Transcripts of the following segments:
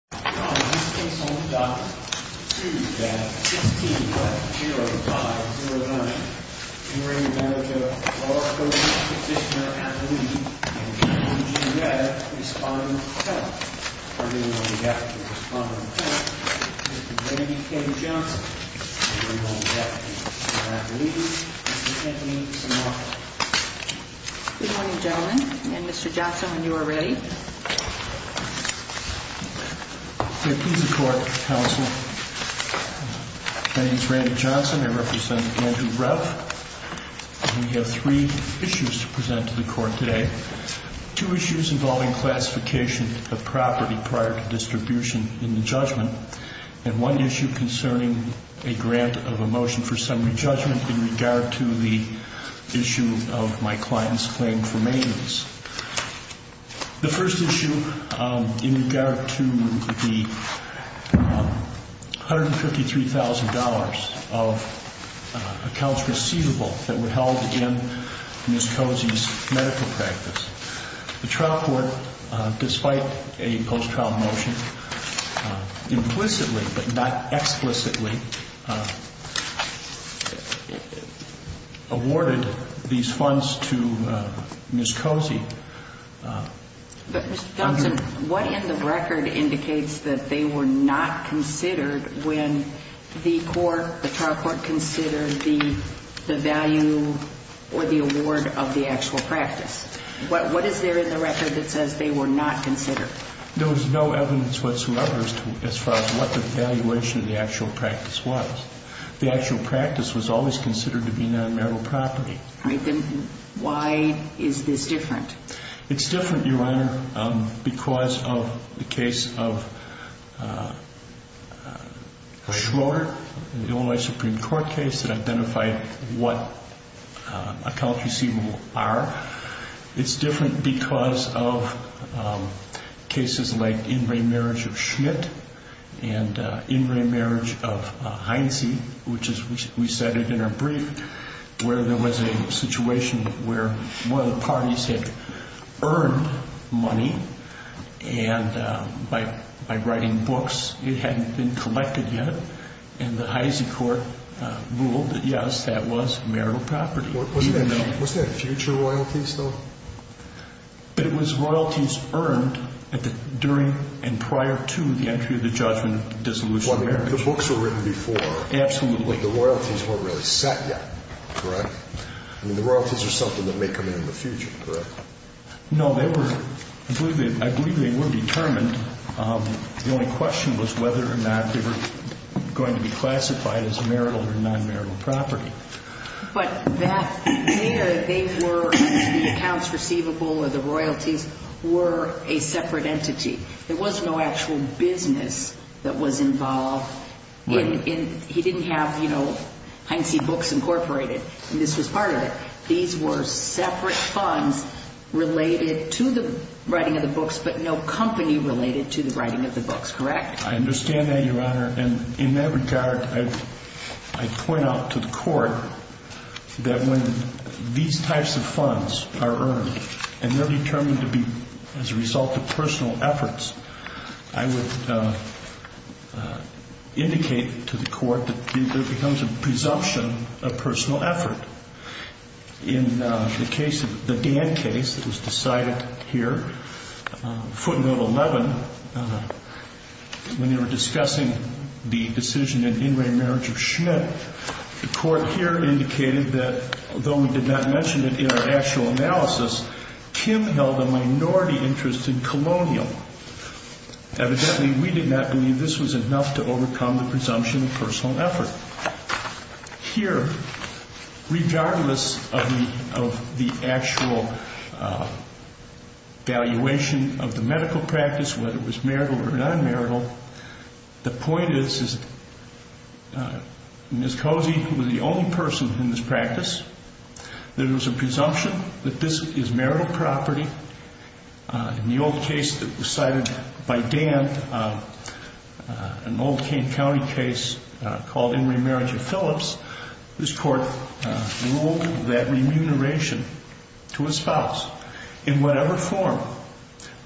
Good morning, gentlemen, and Mr Johnson, you're ready. We have three issues to present to the court today, two issues involving classification of property prior to distribution in the judgment, and one issue concerning a grant of a motion for summary judgment in regard to the issue of my client's claim for maintenance. The first issue in regard to the $153,000 of accounts receivable that were held in Ms. Cozzi's medical practice, the trial court, despite a post-trial motion, implicitly but not explicitly awarded these funds to Ms. Cozzi. But, Mr. Johnson, what in the record indicates that they were not considered when the court, the trial court, considered the value or the award of the actual practice? What is there in the record that says they were not considered? There was no evidence whatsoever as far as what the valuation of the actual practice was. The actual practice was always considered to be non-marital property. All right. Then why is this different? It's different, Your Honor, because of the case of Schroeder, the Illinois Supreme Court case that identified what accounts receivable are. It's different because of cases like in re-marriage of Schmidt and in re-marriage of Heinze, which we cited in our brief, where there was a situation where one of the parties had earned money and by writing books it hadn't been collected yet, and the Heinze court ruled that, yes, that was marital property. Wasn't that future royalties, though? But it was royalties earned during and prior to the entry of the judgment of dissolution of marriage. The books were written before. Absolutely. But the royalties weren't really set yet, correct? I mean, the royalties are something that may come in in the future, correct? No. I believe they were determined. The only question was whether or not they were going to be classified as marital or non-marital property. But that, they were, the accounts receivable or the royalties were a separate entity. There was no actual business that was involved in, he didn't have, you know, Heinze Books Incorporated, and this was part of it. These were separate funds related to the writing of the books, but no company related to the writing of the books, correct? I understand that, Your Honor. And in that regard, I'd point out to the Court that when these types of funds are earned and they're determined to be as a result of personal efforts, I would indicate to the Court that there becomes a presumption of personal effort. In the case of, the Dan case that was decided here, footnote 11, when they were discussing the decision in in-ray marriage of Schmidt, the Court here indicated that, though we did not mention it in our actual analysis, Kim held a minority interest in Colonial. Evidently, we did not believe this was enough to overcome the presumption of personal effort. Here, regardless of the actual valuation of the medical practice, whether it was marital or non-marital, the point is, is that Ms. Cozy was the only person in this practice that it was a presumption that this is marital property. In the old case that was cited by Dan, an old Kane County case called in-ray marriage of Phillips, this Court ruled that remuneration to a spouse in whatever form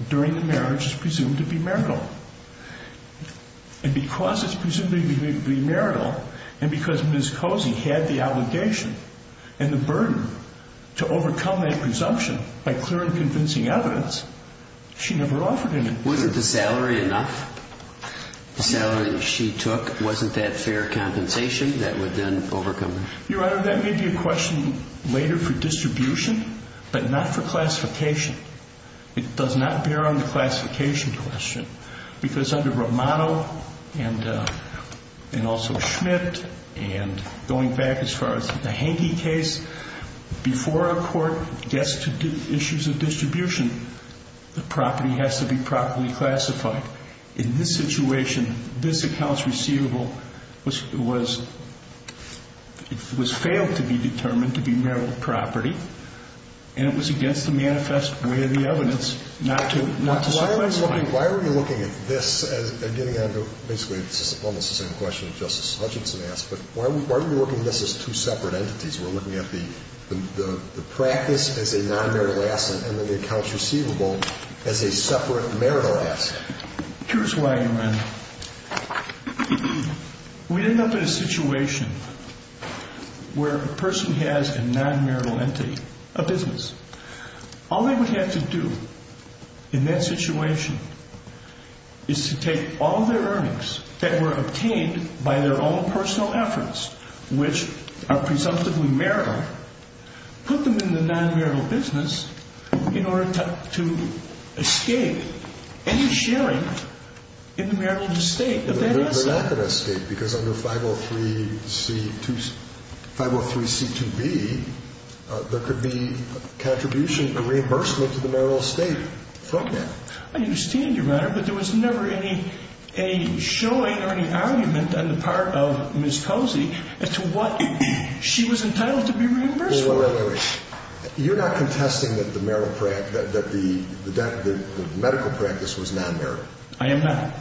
during the marriage is presumed to be marital. And because it's presumed to be marital, and because Ms. Cozy had the allegation and the burden to overcome that presumption by clear and convincing evidence, she never offered any. Was it the salary enough? The salary she took, wasn't that fair compensation that would then overcome it? Your Honor, that may be a question later for distribution, but not for classification. It does not bear on the classification question, because under Romano and also Schmidt, and going back as far as the Hankey case, before a court gets to issues of distribution, the property has to be properly classified. In this situation, this accounts receivable was failed to be determined to be marital property, and it was against the manifest way of the evidence not to circumvent the claim. Why are we looking at this as getting on to basically almost the same question that Justice Hutchinson asked, but why are we looking at this as two separate entities? We're looking at the practice as a non-marital asset and then the accounts receivable as a separate marital asset. Here's why, Your Honor. We end up in a situation where a person has a non-marital entity, a business. All they would have to do in that situation is to take all their earnings that were obtained by their own personal efforts, which are presumptively marital, put them in the non-marital business in order to escape any sharing in the marital estate of that asset. But they're not going to escape because under 503C2B, there could be a contribution, a reimbursement to the marital estate from that. I understand, Your Honor, but there was never any showing or any argument on the part of Ms. Posey as to what she was entitled to be reimbursed for. Well, wait a minute. You're not contesting that the marital, that the medical practice was non-marital. I am not.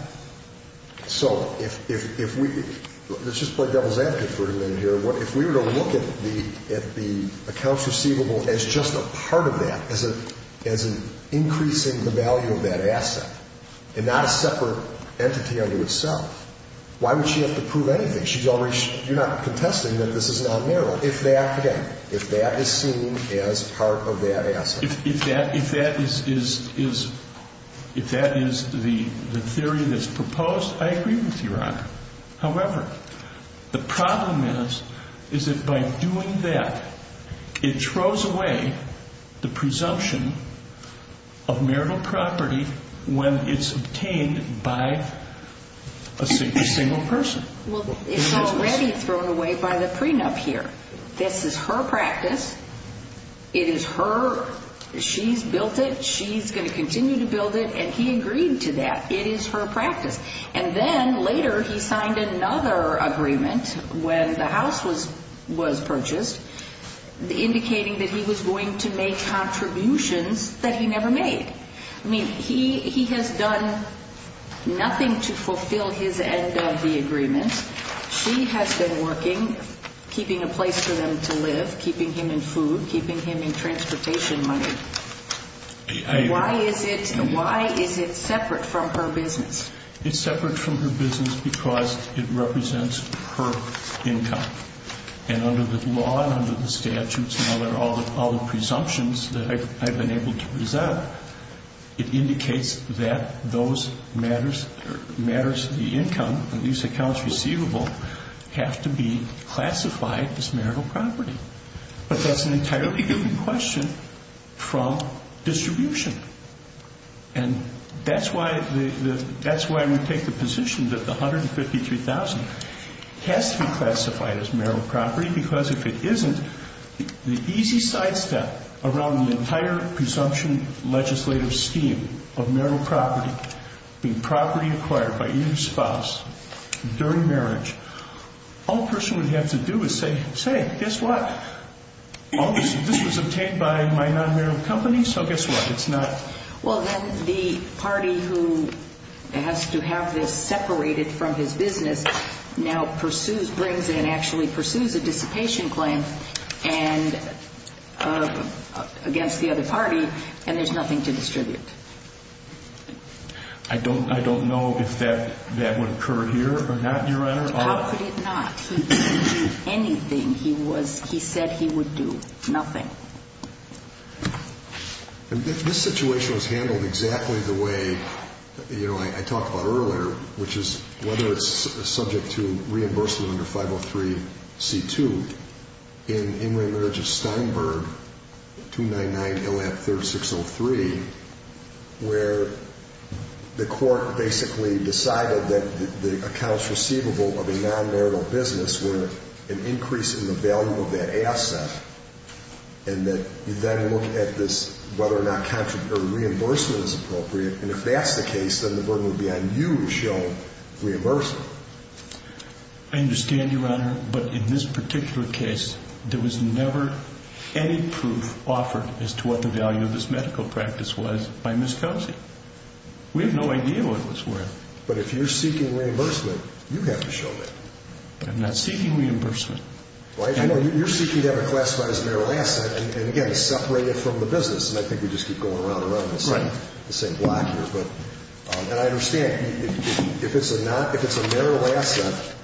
So if we, let's just play devil's advocate for a minute here. If we were to look at the accounts receivable as just a part of that, as an increase in the value of that asset and not a separate entity unto itself, why would she have to prove anything? She's already, you're not contesting that this is non-marital if that, again, if that is seen as part of that asset. If that is the theory that's proposed, I agree with you, Your Honor. However, the problem is, is that by doing that, it throws away the presumption of marital property when it's obtained by a single person. Well, it's already thrown away by the prenup here. This is her practice. It is her. She's built it. She's going to continue to build it. And he agreed to that. It is her practice. And then later, he signed another agreement when the house was purchased, indicating that he was going to make contributions that he never made. I mean, he has done nothing to fulfill his end of the agreement. She has been working, keeping a place for them to live, keeping him in food, keeping him in transportation money. Why is it separate from her business? It's separate from her business because it represents her income. And under the law and under the statutes and all the presumptions that I've been able to have to be classified as marital property. But that's an entirely different question from distribution. And that's why we take the position that the $153,000 has to be classified as marital property because if it isn't, the easy sidestep around the entire presumption legislative scheme of marital property being property acquired by either spouse during marriage, all a person would have to do is say, guess what? This was obtained by my non-marital company, so guess what? It's not. Well, then the party who has to have this separated from his business now pursues, brings it and actually pursues a dissipation claim against the other party, and there's nothing to distribute. I don't know if that would occur here or not, Your Honor. How could it not? He didn't do anything. He said he would do nothing. This situation was handled exactly the way I talked about earlier, which is whether it's where the court basically decided that the accounts receivable of a non-marital business were an increase in the value of that asset, and that you then look at this, whether or not contrary reimbursement is appropriate. And if that's the case, then the burden would be on you to show reimbursement. I understand, Your Honor. But in this particular case, there was never any proof offered as to what the value of this medical practice was by Ms. Kelsey. We have no idea what it was worth. But if you're seeking reimbursement, you have to show that. I'm not seeking reimbursement. You're seeking to have it classified as a marital asset and, again, separate it from the business, and I think we just keep going around and around the same block here. And I understand. If it's a marital asset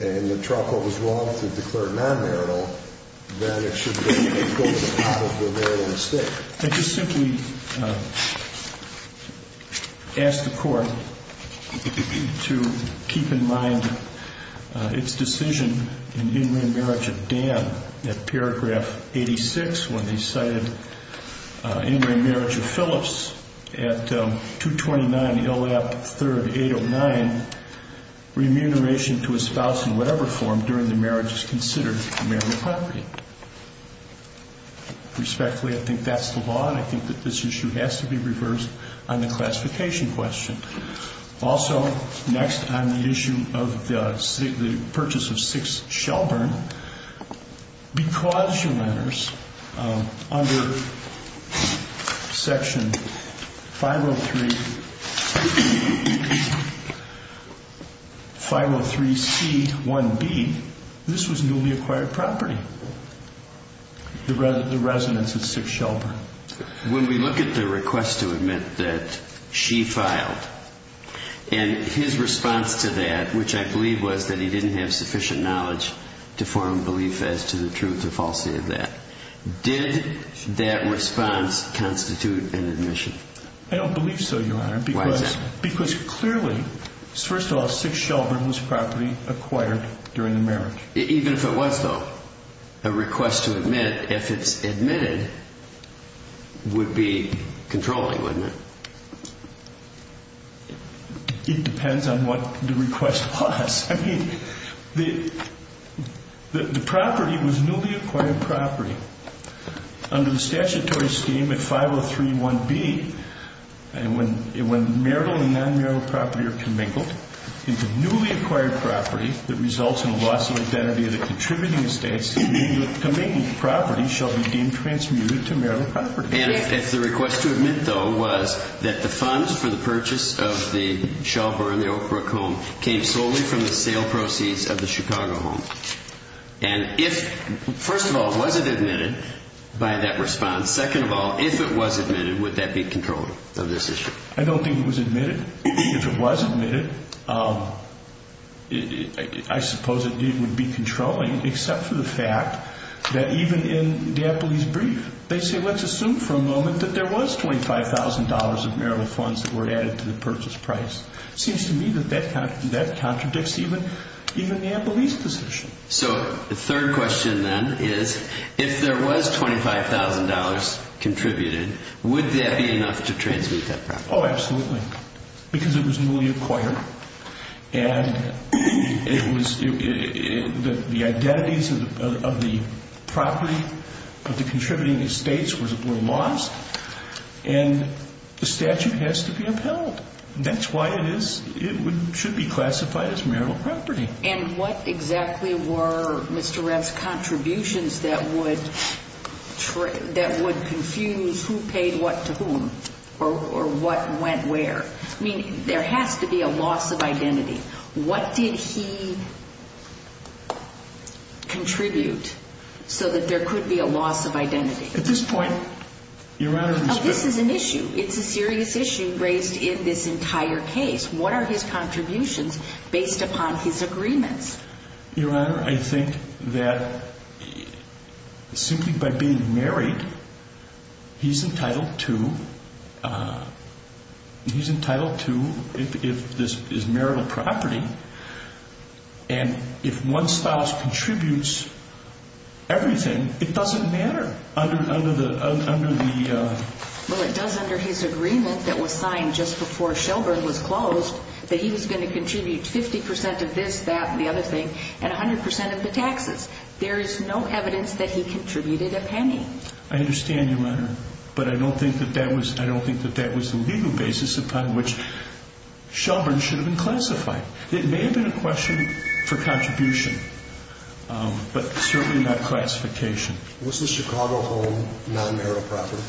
and the trial court was wrong to declare non-marital, then it would go to the top of the marital estate. I just simply ask the court to keep in mind its decision in in-ring marriage of Dan at paragraph 86, when he cited in-ring marriage of Phillips at 229.0F3809, remuneration to a spouse in whatever form during the marriage is considered marital property. Respectfully, I think that's the law, and I think that this issue has to be reversed on the classification question. Also, next on the issue of the purchase of 6 Shelburne, because your letters under Section 503C1B, this was newly acquired property, the residence at 6 Shelburne. When we look at the request to admit that she filed, and his response to that, which I believe was that he didn't have sufficient knowledge to form a belief as to the truth or falsity of that, did that response constitute an admission? I don't believe so, Your Honor. Why is that? Because clearly, first of all, 6 Shelburne was property acquired during the marriage. Even if it was, though, a request to admit, if it's admitted, would be controlling, wouldn't it? It depends on what the request was. I mean, the property was newly acquired property. Under the statutory scheme at 5031B, when marital and non-marital property are commingled into newly acquired property that results in a loss of identity of the contributing estate, the commingled property shall be deemed transmuted to marital property. And if the request to admit, though, was that the funds for the purchase of the Shelburne and the Oakbrook home came solely from the sale proceeds of the Chicago home, and if, first of all, was it admitted by that response, second of all, if it was admitted, would that be controlling of this issue? I don't think it was admitted. If it was admitted, I suppose it would be controlling, except for the fact that even in D'Apoli's brief, they say, let's assume for a moment that there was $25,000 of marital funds that were added to the purchase price. It seems to me that that contradicts even D'Apoli's position. So the third question then is, if there was $25,000 contributed, would that be enough to transmute that property? Oh, absolutely. Because it was newly acquired, and the identities of the property, of the contributing estates were lost, and the statute has to be upheld. That's why it should be classified as marital property. And what exactly were Mr. Rapp's contributions that would confuse who paid what to whom, or what went where? I mean, there has to be a loss of identity. What did he contribute so that there could be a loss of identity? At this point, Your Honor, this is an issue. It's a serious issue raised in this entire case. What are his contributions based upon his agreements? Your Honor, I think that simply by being married, he's entitled to, if this is marital property, and if one spouse contributes everything, it doesn't matter under the... Well, it does under his agreement that was signed just before Shelburne was closed, that he was going to contribute 50% of this, that, and the other thing, and 100% of the taxes. There is no evidence that he contributed a penny. I understand, Your Honor, but I don't think that that was the legal basis upon which Shelburne should have been classified. It may have been a question for contribution, but certainly not classification. Was the Chicago home non-marital property?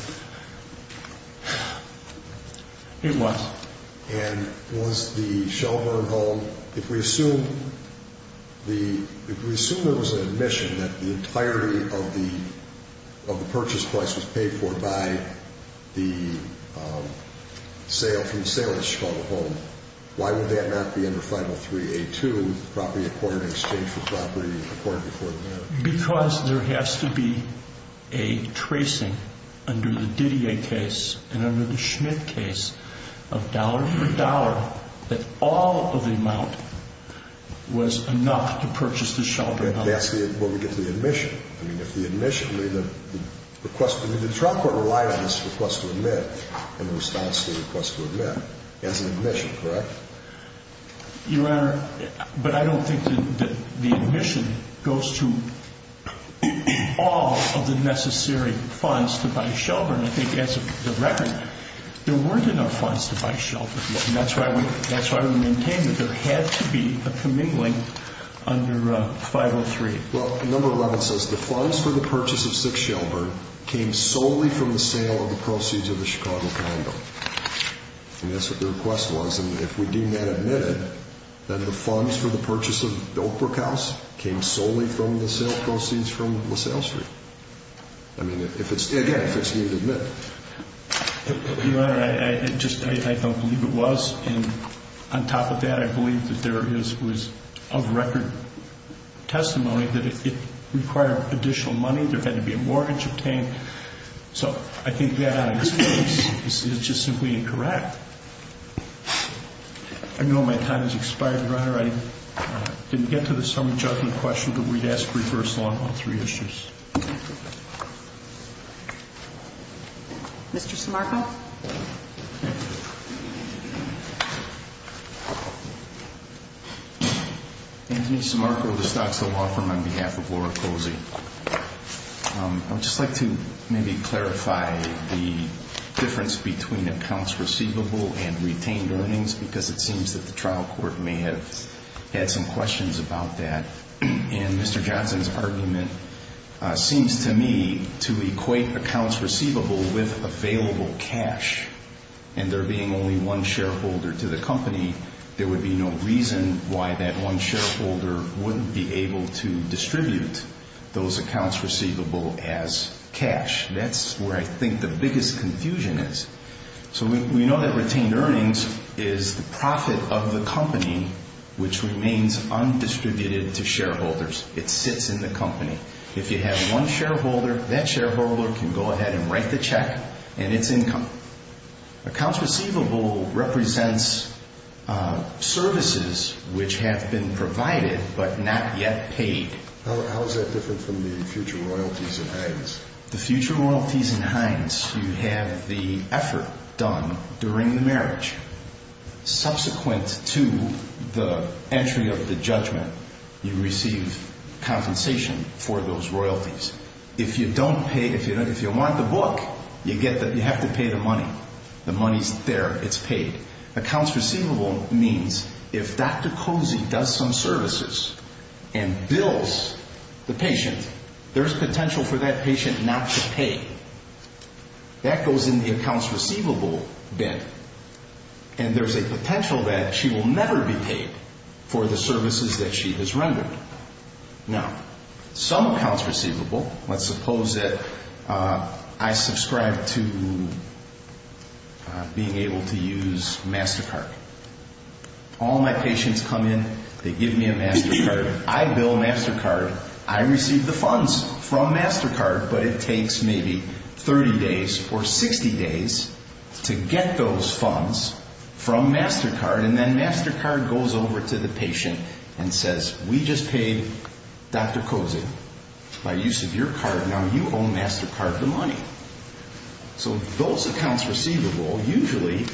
It was. And was the Shelburne home, if we assume there was an admission that the entirety of the purchase price was paid for by the sale from the sale of the Chicago home, why would that not be under 503A2, property acquired in exchange for property acquired before the marriage? Because there has to be a tracing under the Didier case and under the Schmidt case of dollar for dollar that all of the amount was enough to purchase the Shelburne home. And that's where we get to the admission. I mean, if the admission, the request, I mean, the trial court relied on this request to admit in response to the request to admit as an admission, correct? Your Honor, but I don't think that the admission goes to all of the necessary funds to buy Shelburne. I think as of the record, there weren't enough funds to buy Shelburne, and that's why we maintain that there had to be a commingling under 503. Well, number 11 says the funds for the purchase of 6 Shelburne came solely from the sale of the proceeds of the Chicago condo. And that's what the request was. And if we deem that admitted, then the funds for the purchase of Oakbrook House came solely from the proceeds from LaSalle Street. I mean, again, if it's needed to admit. Your Honor, I just don't believe it was. And on top of that, I believe that there was of record testimony that if it required additional money, there had to be a mortgage obtained. So I think that is just simply incorrect. I know my time has expired, Your Honor. I didn't get to the summary judgment question, but we'd ask for a reversal on all three issues. Mr. Simarco? Anthony Simarco of the Stocksville Law Firm on behalf of Laura Posey. I would just like to maybe clarify the difference between accounts receivable and retained earnings, because it seems that the trial court may have had some questions about that. And Mr. Johnson's argument seems to me to equate accounts receivable with available cash. And there being only one shareholder to the company, there would be no reason why that one shareholder wouldn't be able to distribute those accounts receivable as cash. That's where I think the biggest confusion is. So we know that retained earnings is the profit of the company, which remains undistributed to shareholders. It sits in the company. If you have one shareholder, that shareholder can go ahead and write the check, and it's income. Accounts receivable represents services which have been provided but not yet paid. How is that different from the future royalties in Heinz? The future royalties in Heinz, you have the effort done during the marriage. Subsequent to the entry of the judgment, you receive compensation for those royalties. If you don't pay, if you want the book, you have to pay the money. The money's there. It's paid. Accounts receivable means if Dr. Cozy does some services and bills the patient, there's potential for that patient not to pay. That goes in the accounts receivable bin. And there's a potential that she will never be paid for the services that she has rendered. Now, some accounts receivable, let's suppose that I subscribe to being able to use MasterCard. All my patients come in. They give me a MasterCard. I bill MasterCard. I receive the funds from MasterCard. But it takes maybe 30 days or 60 days to get those funds from MasterCard. And then MasterCard goes over to the patient and says, We just paid Dr. Cozy by use of your card. Now you owe MasterCard the money. So those accounts receivable usually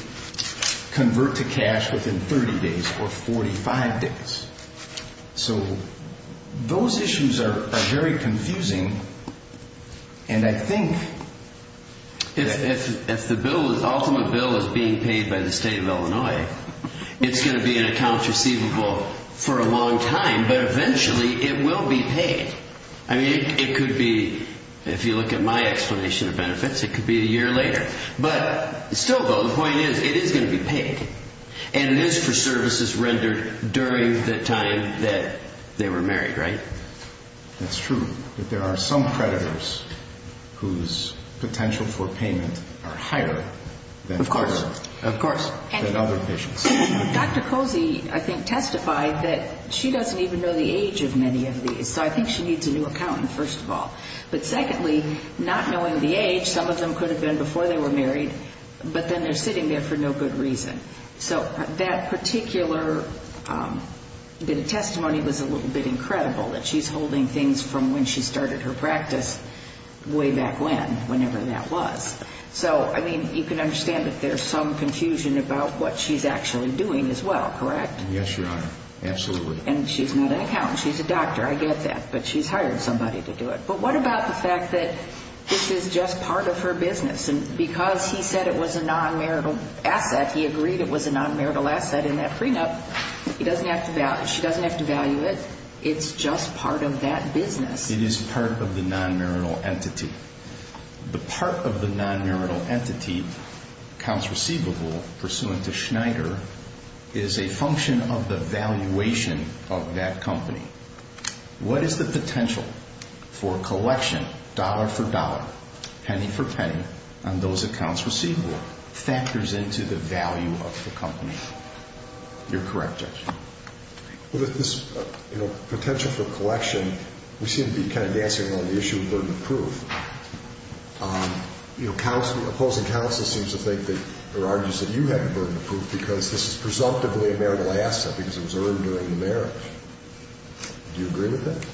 convert to cash within 30 days or 45 days. So those issues are very confusing. And I think if the ultimate bill is being paid by the state of Illinois, it's going to be in accounts receivable for a long time, but eventually it will be paid. I mean, it could be, if you look at my explanation of benefits, it could be a year later. But still, Bill, the point is it is going to be paid. And it is for services rendered during the time that they were married, right? That's true. But there are some creditors whose potential for payment are higher than other patients. Of course. Of course. Dr. Cozy, I think, testified that she doesn't even know the age of many of these. So I think she needs a new accountant, first of all. But secondly, not knowing the age, some of them could have been before they were married, but then they're sitting there for no good reason. So that particular testimony was a little bit incredible, that she's holding things from when she started her practice way back when, whenever that was. So, I mean, you can understand that there's some confusion about what she's actually doing as well, correct? Yes, Your Honor. Absolutely. And she's not an accountant. She's a doctor. I get that. But she's hired somebody to do it. But what about the fact that this is just part of her business? Because he said it was a non-marital asset, he agreed it was a non-marital asset in that prenup. He doesn't have to value it. She doesn't have to value it. It's just part of that business. It is part of the non-marital entity. The part of the non-marital entity counts receivable pursuant to Schneider is a function of the valuation of that company. What is the potential for collection, dollar for dollar, penny for penny, on those accounts receivable factors into the value of the company? You're correct, Judge. Well, this, you know, potential for collection, we seem to be kind of dancing around the issue of burden of proof. You know, opposing counsel seems to think that, or argues that you have the burden of proof because this is presumptively a marital asset because it was earned during the marriage. Do you agree with that?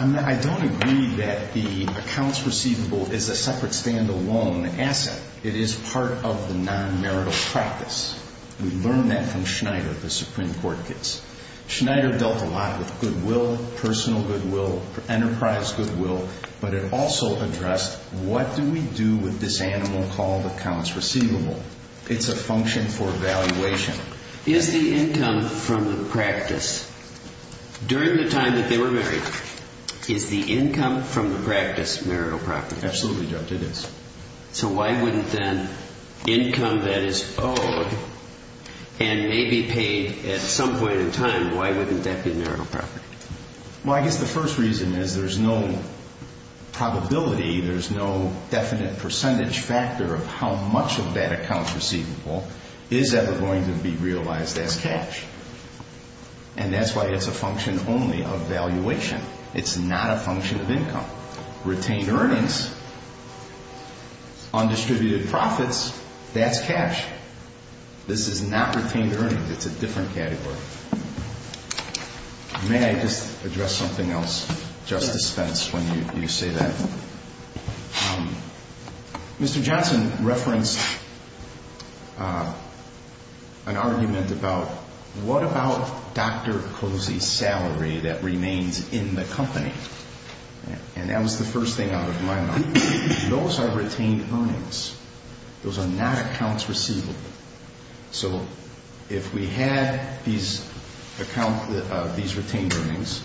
I don't agree that the accounts receivable is a separate stand-alone asset. It is part of the non-marital practice. We learned that from Schneider, the Supreme Court case. Schneider dealt a lot with goodwill, personal goodwill, enterprise goodwill, but it also addressed what do we do with this animal called accounts receivable. It's a function for valuation. Is the income from the practice, during the time that they were married, is the income from the practice marital property? Absolutely, Judge, it is. So why wouldn't then income that is owed and may be paid at some point in time, why wouldn't that be marital property? Well, I guess the first reason is there's no probability, there's no definite percentage factor of how much of that accounts receivable is ever going to be realized as cash. And that's why it's a function only of valuation. It's not a function of income. Retained earnings, undistributed profits, that's cash. This is not retained earnings. It's a different category. May I just address something else, Justice Spence, when you say that? Mr. Johnson referenced an argument about what about Dr. Cozy's salary that remains in the company? And that was the first thing out of my mind. Those are retained earnings. Those are not accounts receivable. So if we had these retained earnings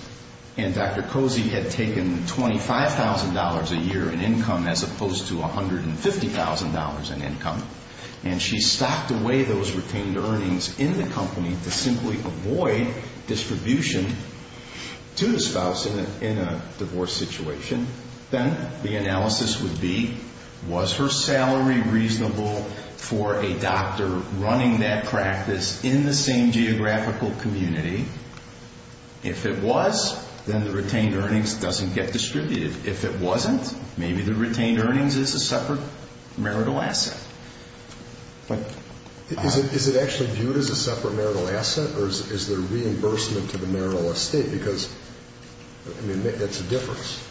and Dr. Cozy had taken $25,000 a year in income as opposed to $150,000 in income and she stocked away those retained earnings in the company to simply avoid distribution to the spouse in a divorce situation, then the analysis would be was her salary reasonable for a doctor running that practice in the same geographical community? If it was, then the retained earnings doesn't get distributed. If it wasn't, maybe the retained earnings is a separate marital asset. Is it actually viewed as a separate marital asset or is there reimbursement to the marital estate? Because that's a difference.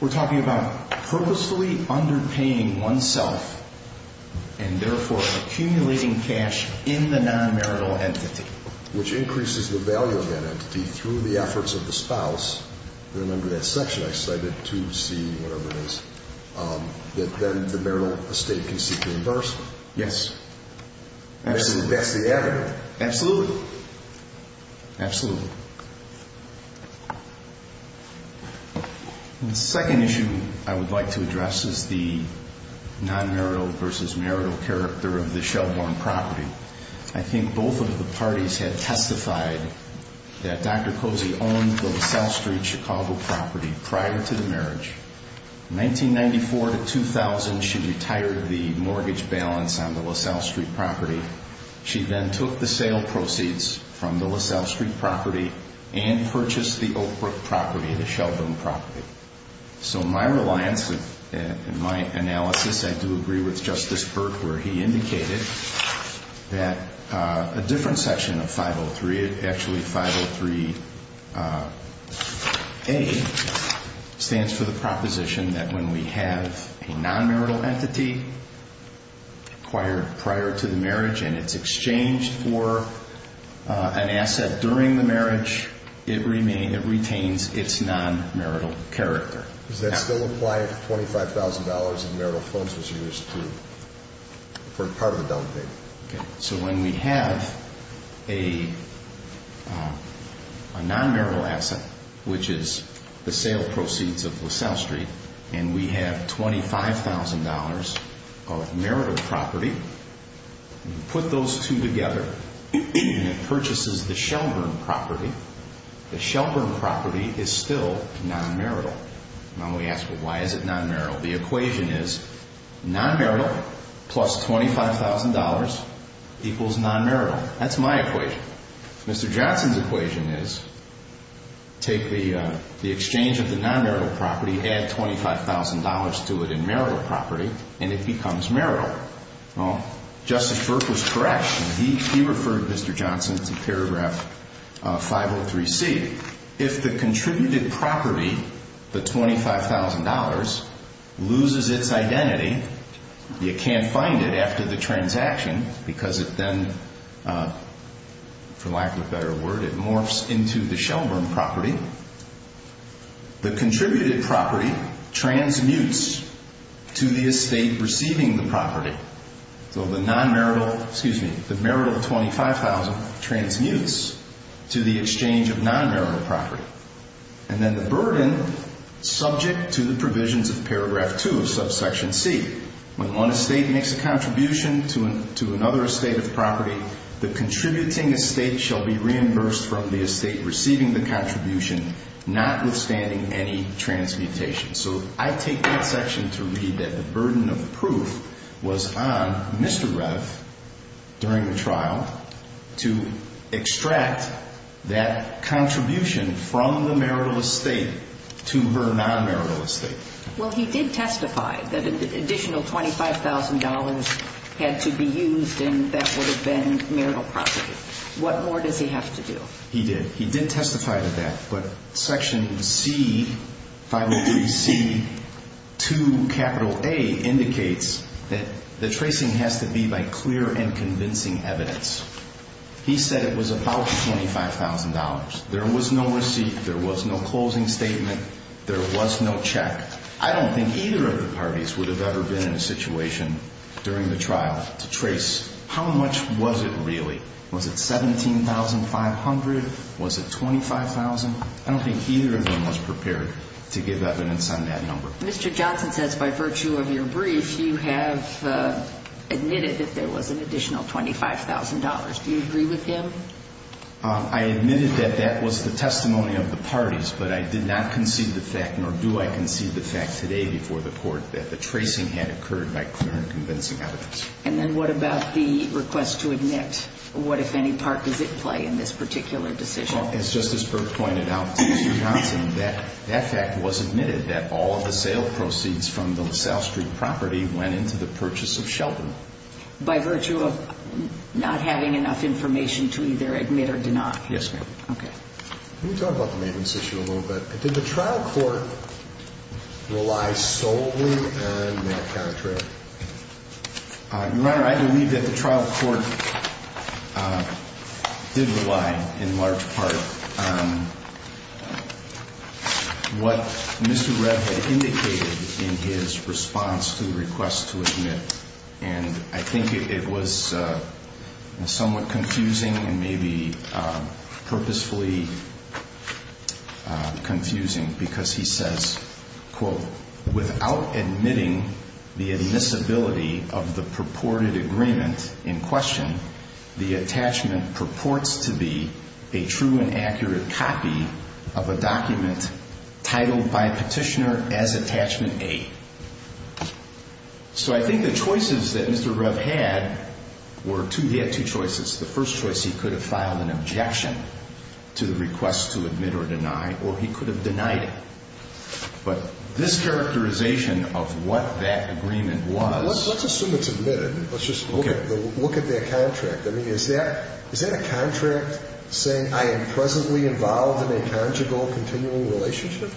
We're talking about purposefully underpaying oneself and therefore accumulating cash in the non-marital entity. Which increases the value of that entity through the efforts of the spouse. Remember that section I cited to see whatever it is, that then the marital estate can seek reimbursement. Yes. That's the evidence. Absolutely. Absolutely. The second issue I would like to address is the non-marital versus marital character of the Shelbourne property. I think both of the parties have testified that Dr. Cozy owned the LaSalle Street, Chicago property prior to the marriage. 1994 to 2000, she retired the mortgage balance on the LaSalle Street property. She then took the sale proceeds from the LaSalle Street property and purchased the Oakbrook property, the Shelbourne property. So my reliance and my analysis, I do agree with Justice Burke where he indicated that a different section of 503, actually 503A stands for the proposition that when we have a non-marital entity acquired prior to the marriage and it's exchanged for an asset during the marriage, it retains its non-marital character. Does that still apply if $25,000 in marital funds was used for part of the down payment? Okay. So when we have a non-marital asset, which is the sale proceeds of LaSalle Street, and we have $25,000 of marital property, we put those two together and it purchases the Shelbourne property. The Shelbourne property is still non-marital. Now we ask, well, why is it non-marital? The equation is non-marital plus $25,000 equals non-marital. That's my equation. Mr. Johnson's equation is take the exchange of the non-marital property, add $25,000 to it in marital property, and it becomes marital. Well, Justice Burke was correct. He referred Mr. Johnson to paragraph 503C. If the contributed property, the $25,000, loses its identity, you can't find it after the transaction because it then, for lack of a better word, it morphs into the Shelbourne property. The contributed property transmutes to the estate receiving the property. So the non-marital, excuse me, the marital $25,000 transmutes to the exchange of non-marital property. And then the burden, subject to the provisions of paragraph 2 of subsection C, when one estate makes a contribution to another estate of property, the contributing estate shall be reimbursed from the estate receiving the contribution, notwithstanding any transmutation. So I take that section to read that the burden of proof was on Mr. Reff during the trial to extract that contribution from the marital estate to her non-marital estate. Well, he did testify that an additional $25,000 had to be used, and that would have been marital property. What more does he have to do? He did. He did testify to that. But section C, 503C, 2A indicates that the tracing has to be by clear and convincing evidence. He said it was about $25,000. There was no receipt. There was no closing statement. There was no check. I don't think either of the parties would have ever been in a situation during the trial to trace. How much was it really? Was it $17,500? Was it $25,000? I don't think either of them was prepared to give evidence on that number. Mr. Johnson says by virtue of your brief, you have admitted that there was an additional $25,000. Do you agree with him? I admitted that that was the testimony of the parties, but I did not concede the fact, nor do I concede the fact today before the Court, that the tracing had occurred by clear and convincing evidence. And then what about the request to admit? What, if any, part does it play in this particular decision? Well, as Justice Burke pointed out to Mr. Johnson, that fact was admitted that all of the sale proceeds from the South Street property went into the purchase of Sheldon. By virtue of not having enough information to either admit or deny? Yes, ma'am. Okay. Let me talk about the maintenance issue a little bit. Did the trial court rely solely on that counterfeit? Your Honor, I believe that the trial court did rely in large part on what Mr. Reb had indicated in his response to the request to admit. And I think it was somewhat confusing and maybe purposefully confusing, because he says, quote, without admitting the admissibility of the purported agreement in question, the attachment purports to be a true and accurate copy of a document titled by a petitioner as attachment A. So I think the choices that Mr. Reb had were two. He had two choices. The first choice, he could have filed an objection to the request to admit or deny, or he could have denied it. But this characterization of what that agreement was. Let's assume it's admitted. Let's just look at that contract. I mean, is that a contract saying I am presently involved in a conjugal continuing relationship?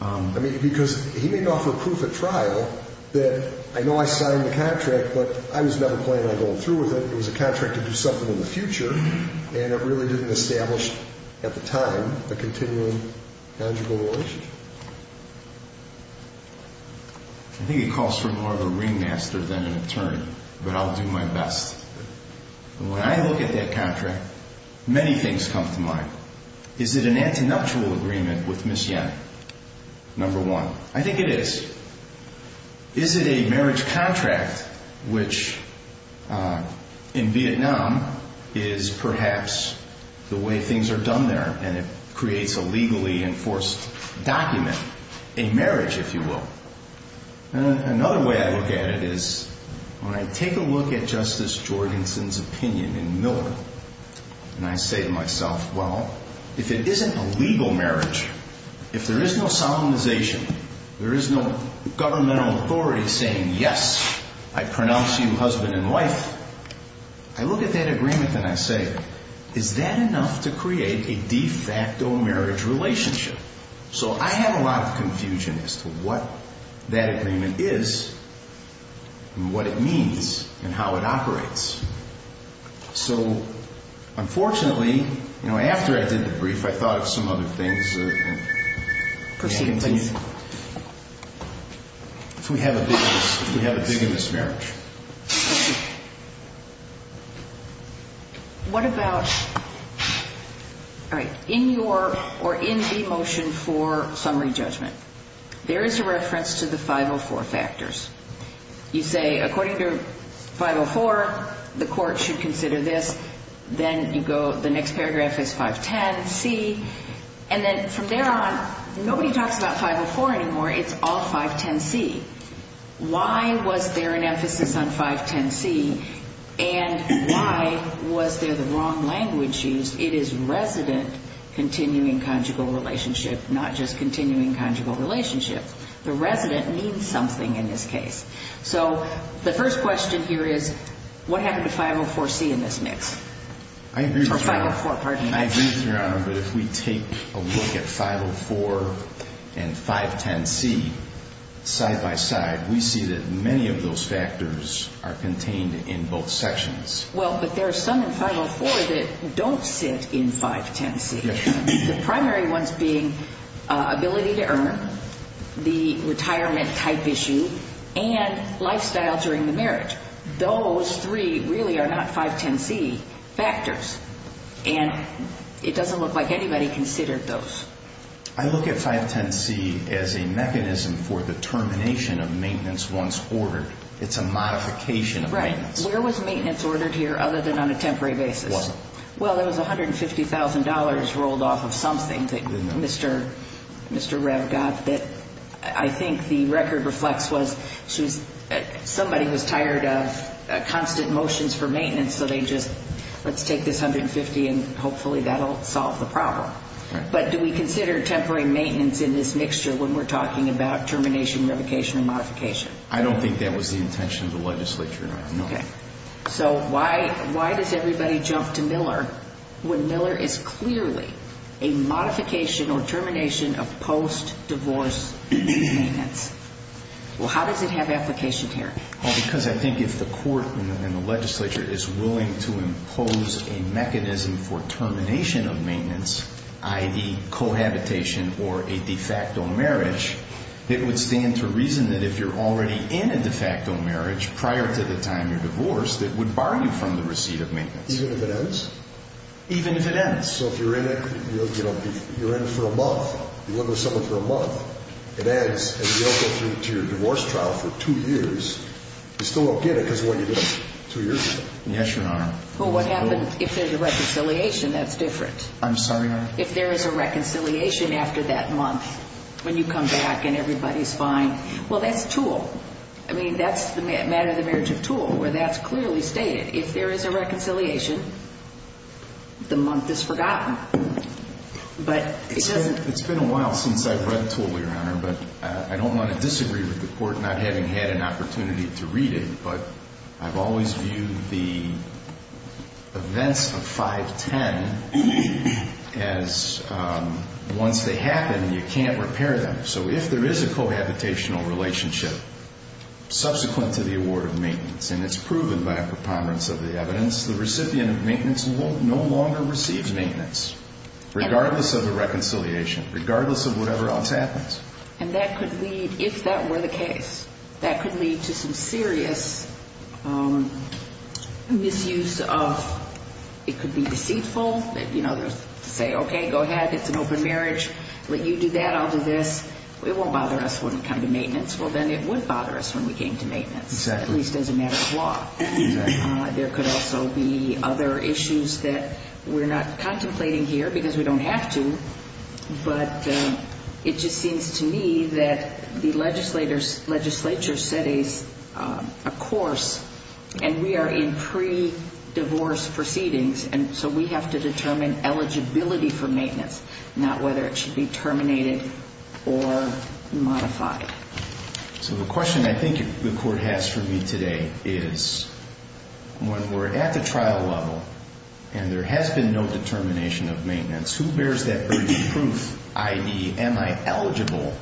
I mean, because he may offer proof at trial that I know I signed the contract, but I was never planning on going through with it. It was a contract to do something in the future, and it really didn't establish at the time a continuing conjugal relationship. I think it calls for more of a ringmaster than an attorney, but I'll do my best. When I look at that contract, many things come to mind. Is it an antinatural agreement with Ms. Yen, number one? I think it is. Is it a marriage contract, which in Vietnam is perhaps the way things are done there, and it creates a legally enforced document, a marriage, if you will. Another way I look at it is when I take a look at Justice Jorgensen's opinion in Miller, and I say to myself, well, if it isn't a legal marriage, if there is no solemnization, if there is no governmental authority saying, yes, I pronounce you husband and wife, I look at that agreement and I say, is that enough to create a de facto marriage relationship? So I have a lot of confusion as to what that agreement is and what it means and how it operates. So unfortunately, after I did the brief, I thought of some other things. Proceed, please. If we have a big in this marriage. What about in your or in the motion for summary judgment, there is a reference to the 504 factors. You say, according to 504, the court should consider this. Then you go, the next paragraph is 510C. And then from there on, nobody talks about 504 anymore. It's all 510C. Why was there an emphasis on 510C? And why was there the wrong language used? It is resident continuing conjugal relationship, not just continuing conjugal relationship. The resident needs something in this case. So the first question here is, what happened to 504C in this mix? I agree, Your Honor. Or 504, pardon me. I agree, Your Honor, but if we take a look at 504 and 510C side by side, we see that many of those factors are contained in both sections. Well, but there are some in 504 that don't sit in 510C. The primary ones being ability to earn, the retirement type issue, and lifestyle during the marriage. Those three really are not 510C factors. And it doesn't look like anybody considered those. I look at 510C as a mechanism for the termination of maintenance once ordered. It's a modification of maintenance. Where was maintenance ordered here other than on a temporary basis? Well, there was $150,000 rolled off of something that Mr. Rev got that I think the record reflects was somebody was tired of constant motions for maintenance, so they just, let's take this $150,000 and hopefully that will solve the problem. But do we consider temporary maintenance in this mixture when we're talking about termination, revocation, and modification? I don't think that was the intention of the legislature, Your Honor. Okay. So why does everybody jump to Miller when Miller is clearly a modification or termination of post-divorce maintenance? Well, how does it have application here? Well, because I think if the court and the legislature is willing to impose a mechanism for termination of maintenance, i.e., cohabitation or a de facto marriage, it would stand to reason that if you're already in a de facto marriage prior to the time you're divorced, it would bar you from the receipt of maintenance. Even if it ends? Even if it ends. So if you're in it, you know, you're in it for a month, you live with someone for a month, it ends and you don't go through to your divorce trial for two years, you still don't get it because of what you did two years ago? Yes, Your Honor. Well, what happens if there's a reconciliation that's different? I'm sorry, Your Honor? If there is a reconciliation after that month, when you come back and everybody's fine, well, that's Toole. I mean, that's the matter of the marriage of Toole, where that's clearly stated. If there is a reconciliation, the month is forgotten. But it doesn't – It's been a while since I've read Toole, Your Honor, but I don't want to disagree with the court not having had an opportunity to read it, but I've always viewed the events of 510 as once they happen, you can't repair them. So if there is a cohabitational relationship subsequent to the award of maintenance, and it's proven by a preponderance of the evidence, the recipient of maintenance will no longer receive maintenance, regardless of the reconciliation, regardless of whatever else happens. And that could lead – if that were the case, that could lead to some serious misuse of – it could be deceitful, you know, to say, okay, go ahead, it's an open marriage, let you do that, I'll do this. It won't bother us when we come to maintenance. Well, then it would bother us when we came to maintenance. Exactly. At least as a matter of law. There could also be other issues that we're not contemplating here because we don't have to, but it just seems to me that the legislature set a course, and we are in pre-divorce proceedings, and so we have to determine eligibility for maintenance, not whether it should be terminated or modified. So the question I think the court has for me today is when we're at the trial level and there has been no determination of maintenance, who bears that burden of proof, i.e., am I eligible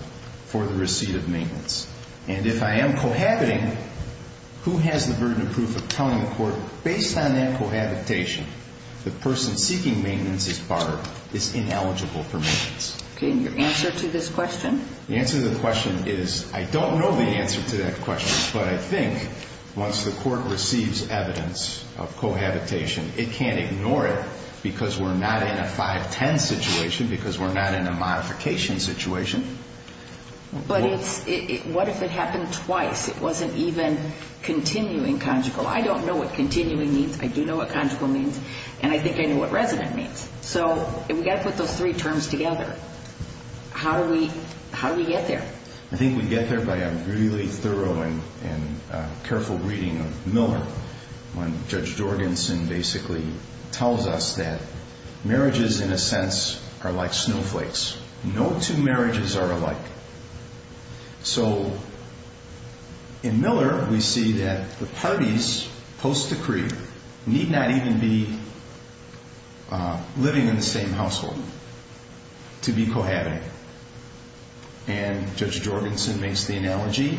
for the receipt of maintenance? And if I am cohabiting, who has the burden of proof of telling the court, based on that cohabitation, the person seeking maintenance is barred, is ineligible for maintenance? Okay, and your answer to this question? The answer to the question is I don't know the answer to that question, but I think once the court receives evidence of cohabitation, it can't ignore it because we're not in a 5-10 situation, because we're not in a modification situation. But what if it happened twice? It wasn't even continuing conjugal. I don't know what continuing means. I do know what conjugal means, and I think I know what resident means. So we've got to put those three terms together. How do we get there? I think we get there by a really thorough and careful reading of Miller when Judge Jorgensen basically tells us that marriages, in a sense, are like snowflakes. No two marriages are alike. So in Miller, we see that the parties post decree need not even be living in the same household to be cohabiting. And Judge Jorgensen makes the analogy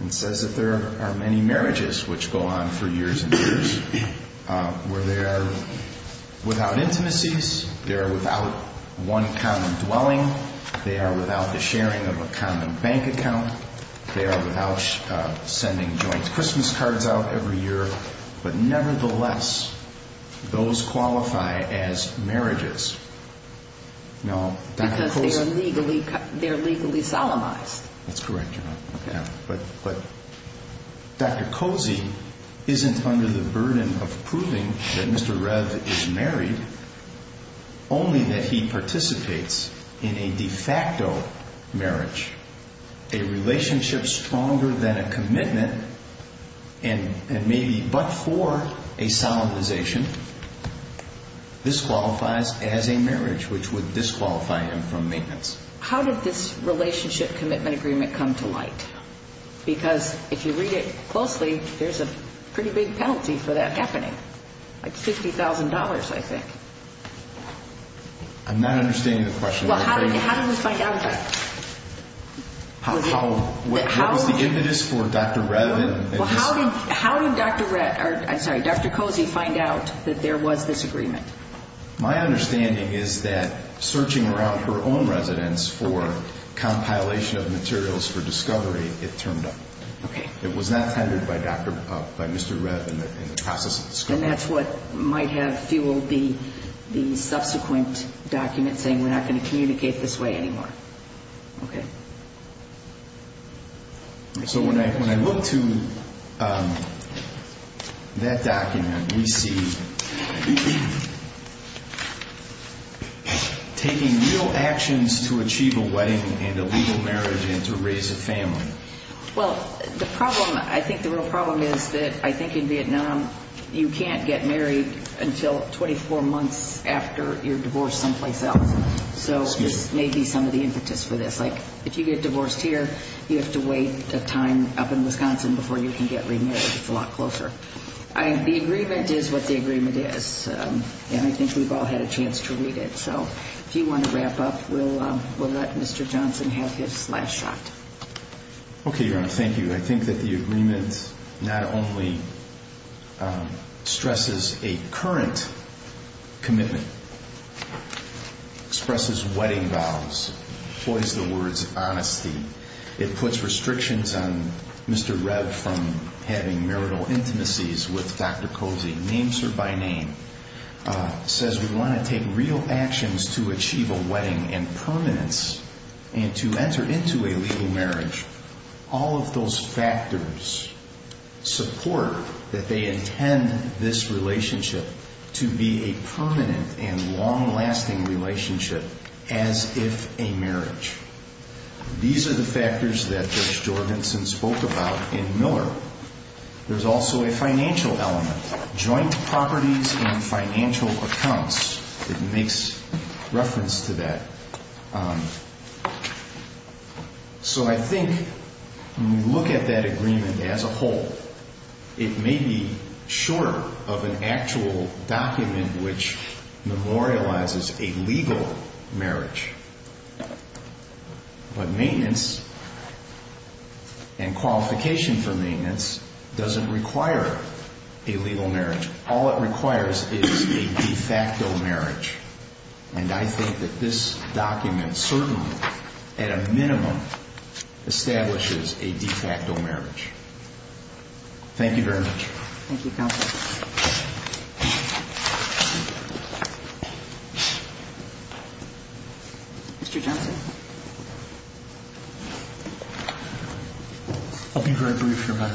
and says that there are many marriages which go on for years and years where they are without intimacies, they are without one common dwelling, they are without the sharing of a common bank account, they are without sending joint Christmas cards out every year, but nevertheless, those qualify as marriages. Because they are legally solemnized. That's correct, Your Honor. But Dr. Cozy isn't under the burden of proving that Mr. Rev is married, only that he participates in a de facto marriage, a relationship stronger than a commitment and maybe but for a solemnization. This qualifies as a marriage, which would disqualify him from maintenance. How did this relationship commitment agreement come to light? Because if you read it closely, there's a pretty big penalty for that happening, like $50,000, I think. I'm not understanding the question. Well, how did we find out about it? What was the impetus for Dr. Rev and his... How did Dr. Rev, I'm sorry, Dr. Cozy find out that there was this agreement? My understanding is that searching around her own residence for compilation of materials for discovery, it turned up. Okay. It was not tendered by Mr. Rev in the process of discovery. And that's what might have fueled the subsequent document saying, we're not going to communicate this way anymore. Okay. So when I look to that document, we see taking real actions to achieve a wedding and a legal marriage and to raise a family. Well, the problem, I think the real problem is that I think in Vietnam, you can't get married until 24 months after you're divorced someplace else. So this may be some of the impetus for this. Like if you get divorced here, you have to wait a time up in Wisconsin before you can get remarried. It's a lot closer. The agreement is what the agreement is, and I think we've all had a chance to read it. So if you want to wrap up, we'll let Mr. Johnson have his last shot. Okay, Your Honor. Thank you. I think that the agreement not only stresses a current commitment, expresses wedding vows, employs the words honesty. It puts restrictions on Mr. Rev from having marital intimacies with Dr. Cozy, names her by name, says we want to take real actions to achieve a wedding and permanence and to enter into a legal marriage. All of those factors support that they intend this relationship to be a permanent and long-lasting relationship as if a marriage. These are the factors that Judge Jorgensen spoke about in Miller. There's also a financial element, joint properties and financial accounts. It makes reference to that. So I think when we look at that agreement as a whole, it may be short of an actual document which memorializes a legal marriage. But maintenance and qualification for maintenance doesn't require a legal marriage. All it requires is a de facto marriage. And I think that this document certainly, at a minimum, establishes a de facto marriage. Thank you very much. Thank you, Counsel. Mr. Johnson. I'll be very brief, Your Honor.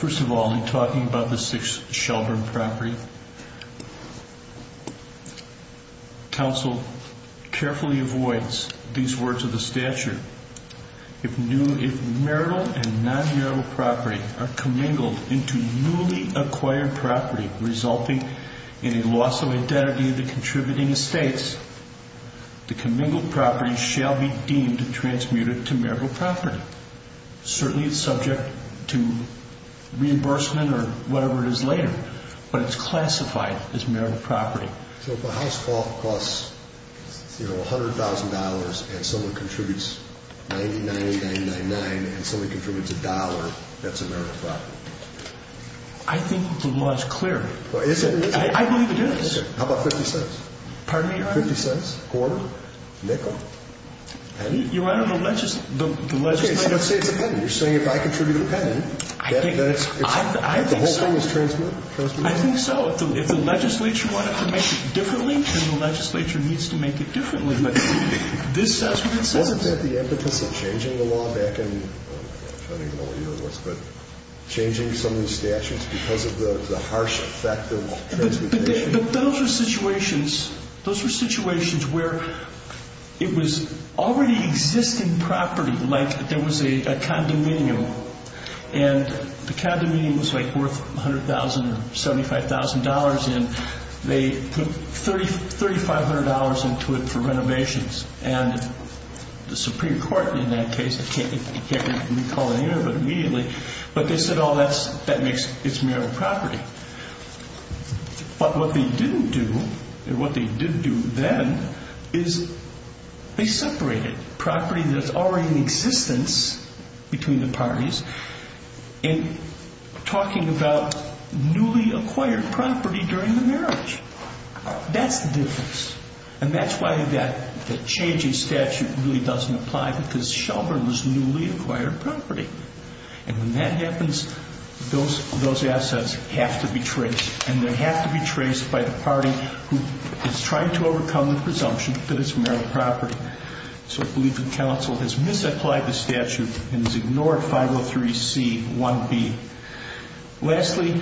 First of all, in talking about the 6 Shelburne property, counsel carefully avoids these words of the statute. If marital and non-marital property are commingled into newly acquired property resulting in a loss of identity of the contributing estates, the commingled property shall be deemed transmuted to marital property. Certainly, it's subject to reimbursement or whatever it is later. But it's classified as marital property. So if a house costs $100,000 and someone contributes $99,999 and someone contributes a dollar, that's a marital property? I think the law is clear. Is it? I believe it is. How about $0.50? Pardon me, Your Honor? $0.50, quarter, nickel, penny? Your Honor, the legislature... Okay, so let's say it's a penny. You're saying if I contribute a penny, that the whole thing is transmuted? I think so. If the legislature wanted to make it differently, then the legislature needs to make it differently. But this says what it says. Wasn't that the impetus of changing the law back in, I don't even know what year it was, but changing some of the statutes because of the harsh effect of transmutation? But those were situations where it was already existing property, like there was a condominium, and the condominium was worth $100,000 or $75,000, and they put $3,500 into it for renovations. And the Supreme Court in that case, I can't recall the year, but immediately, but they said, oh, that makes, it's marital property. But what they didn't do, or what they did do then, is they separated property that's already in existence between the parties and talking about newly acquired property during the marriage. That's the difference. And that's why that changing statute really doesn't apply because Shelburne was newly acquired property. And when that happens, those assets have to be traced, and they have to be traced by the party who is trying to overcome the presumption that it's marital property. So I believe the counsel has misapplied the statute and has ignored 503C1B. Lastly,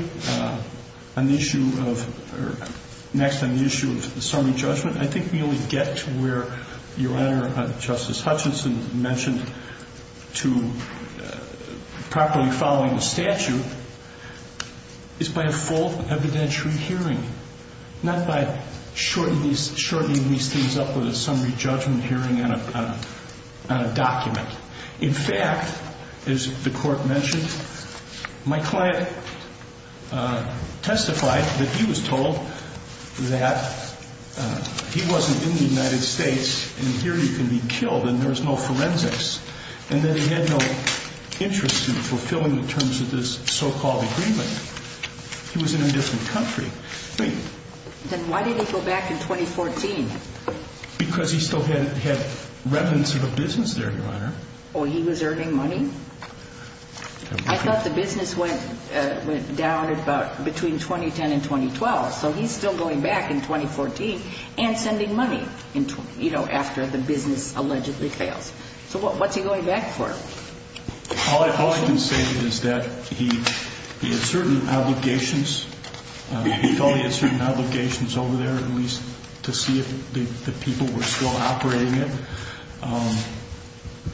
on the issue of, or next on the issue of the summary judgment, I think we only get to where Your Honor, Justice Hutchinson mentioned, to properly following the statute is by a full evidentiary hearing, not by shortening these things up with a summary judgment hearing on a document. In fact, as the Court mentioned, my client testified that he was told that he wasn't in the United States, and here he can be killed, and there was no forensics. And that he had no interest in fulfilling the terms of this so-called agreement. He was in a different country. Then why did he go back in 2014? Because he still had remnants of a business there, Your Honor. Oh, he was earning money? I thought the business went down between 2010 and 2012. So he's still going back in 2014 and sending money, you know, after the business allegedly fails. So what's he going back for? All I can say is that he had certain obligations. He felt he had certain obligations over there, at least, to see if the people were still operating it.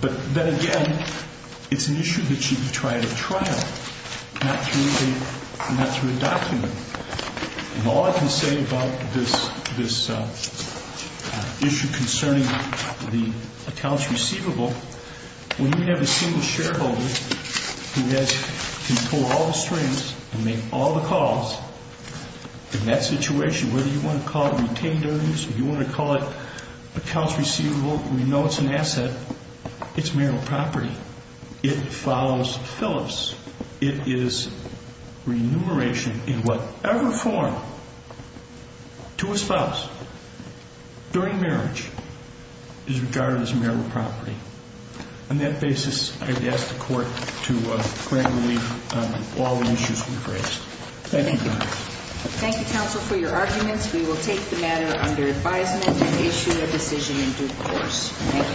But then again, it's an issue that should be tried at trial, not through a document. And all I can say about this issue concerning the accounts receivable, when you have a single shareholder who can pull all the strings and make all the calls, in that situation, whether you want to call it retained earnings or you want to call it accounts receivable, we know it's an asset. It's marital property. It follows Phillips. It is remuneration in whatever form to a spouse during marriage is regarded as marital property. On that basis, I would ask the Court to grant relief on all the issues we've raised. Thank you, Your Honor. Thank you, counsel, for your arguments. We will take the matter under advisement and issue a decision in due course. Thank you.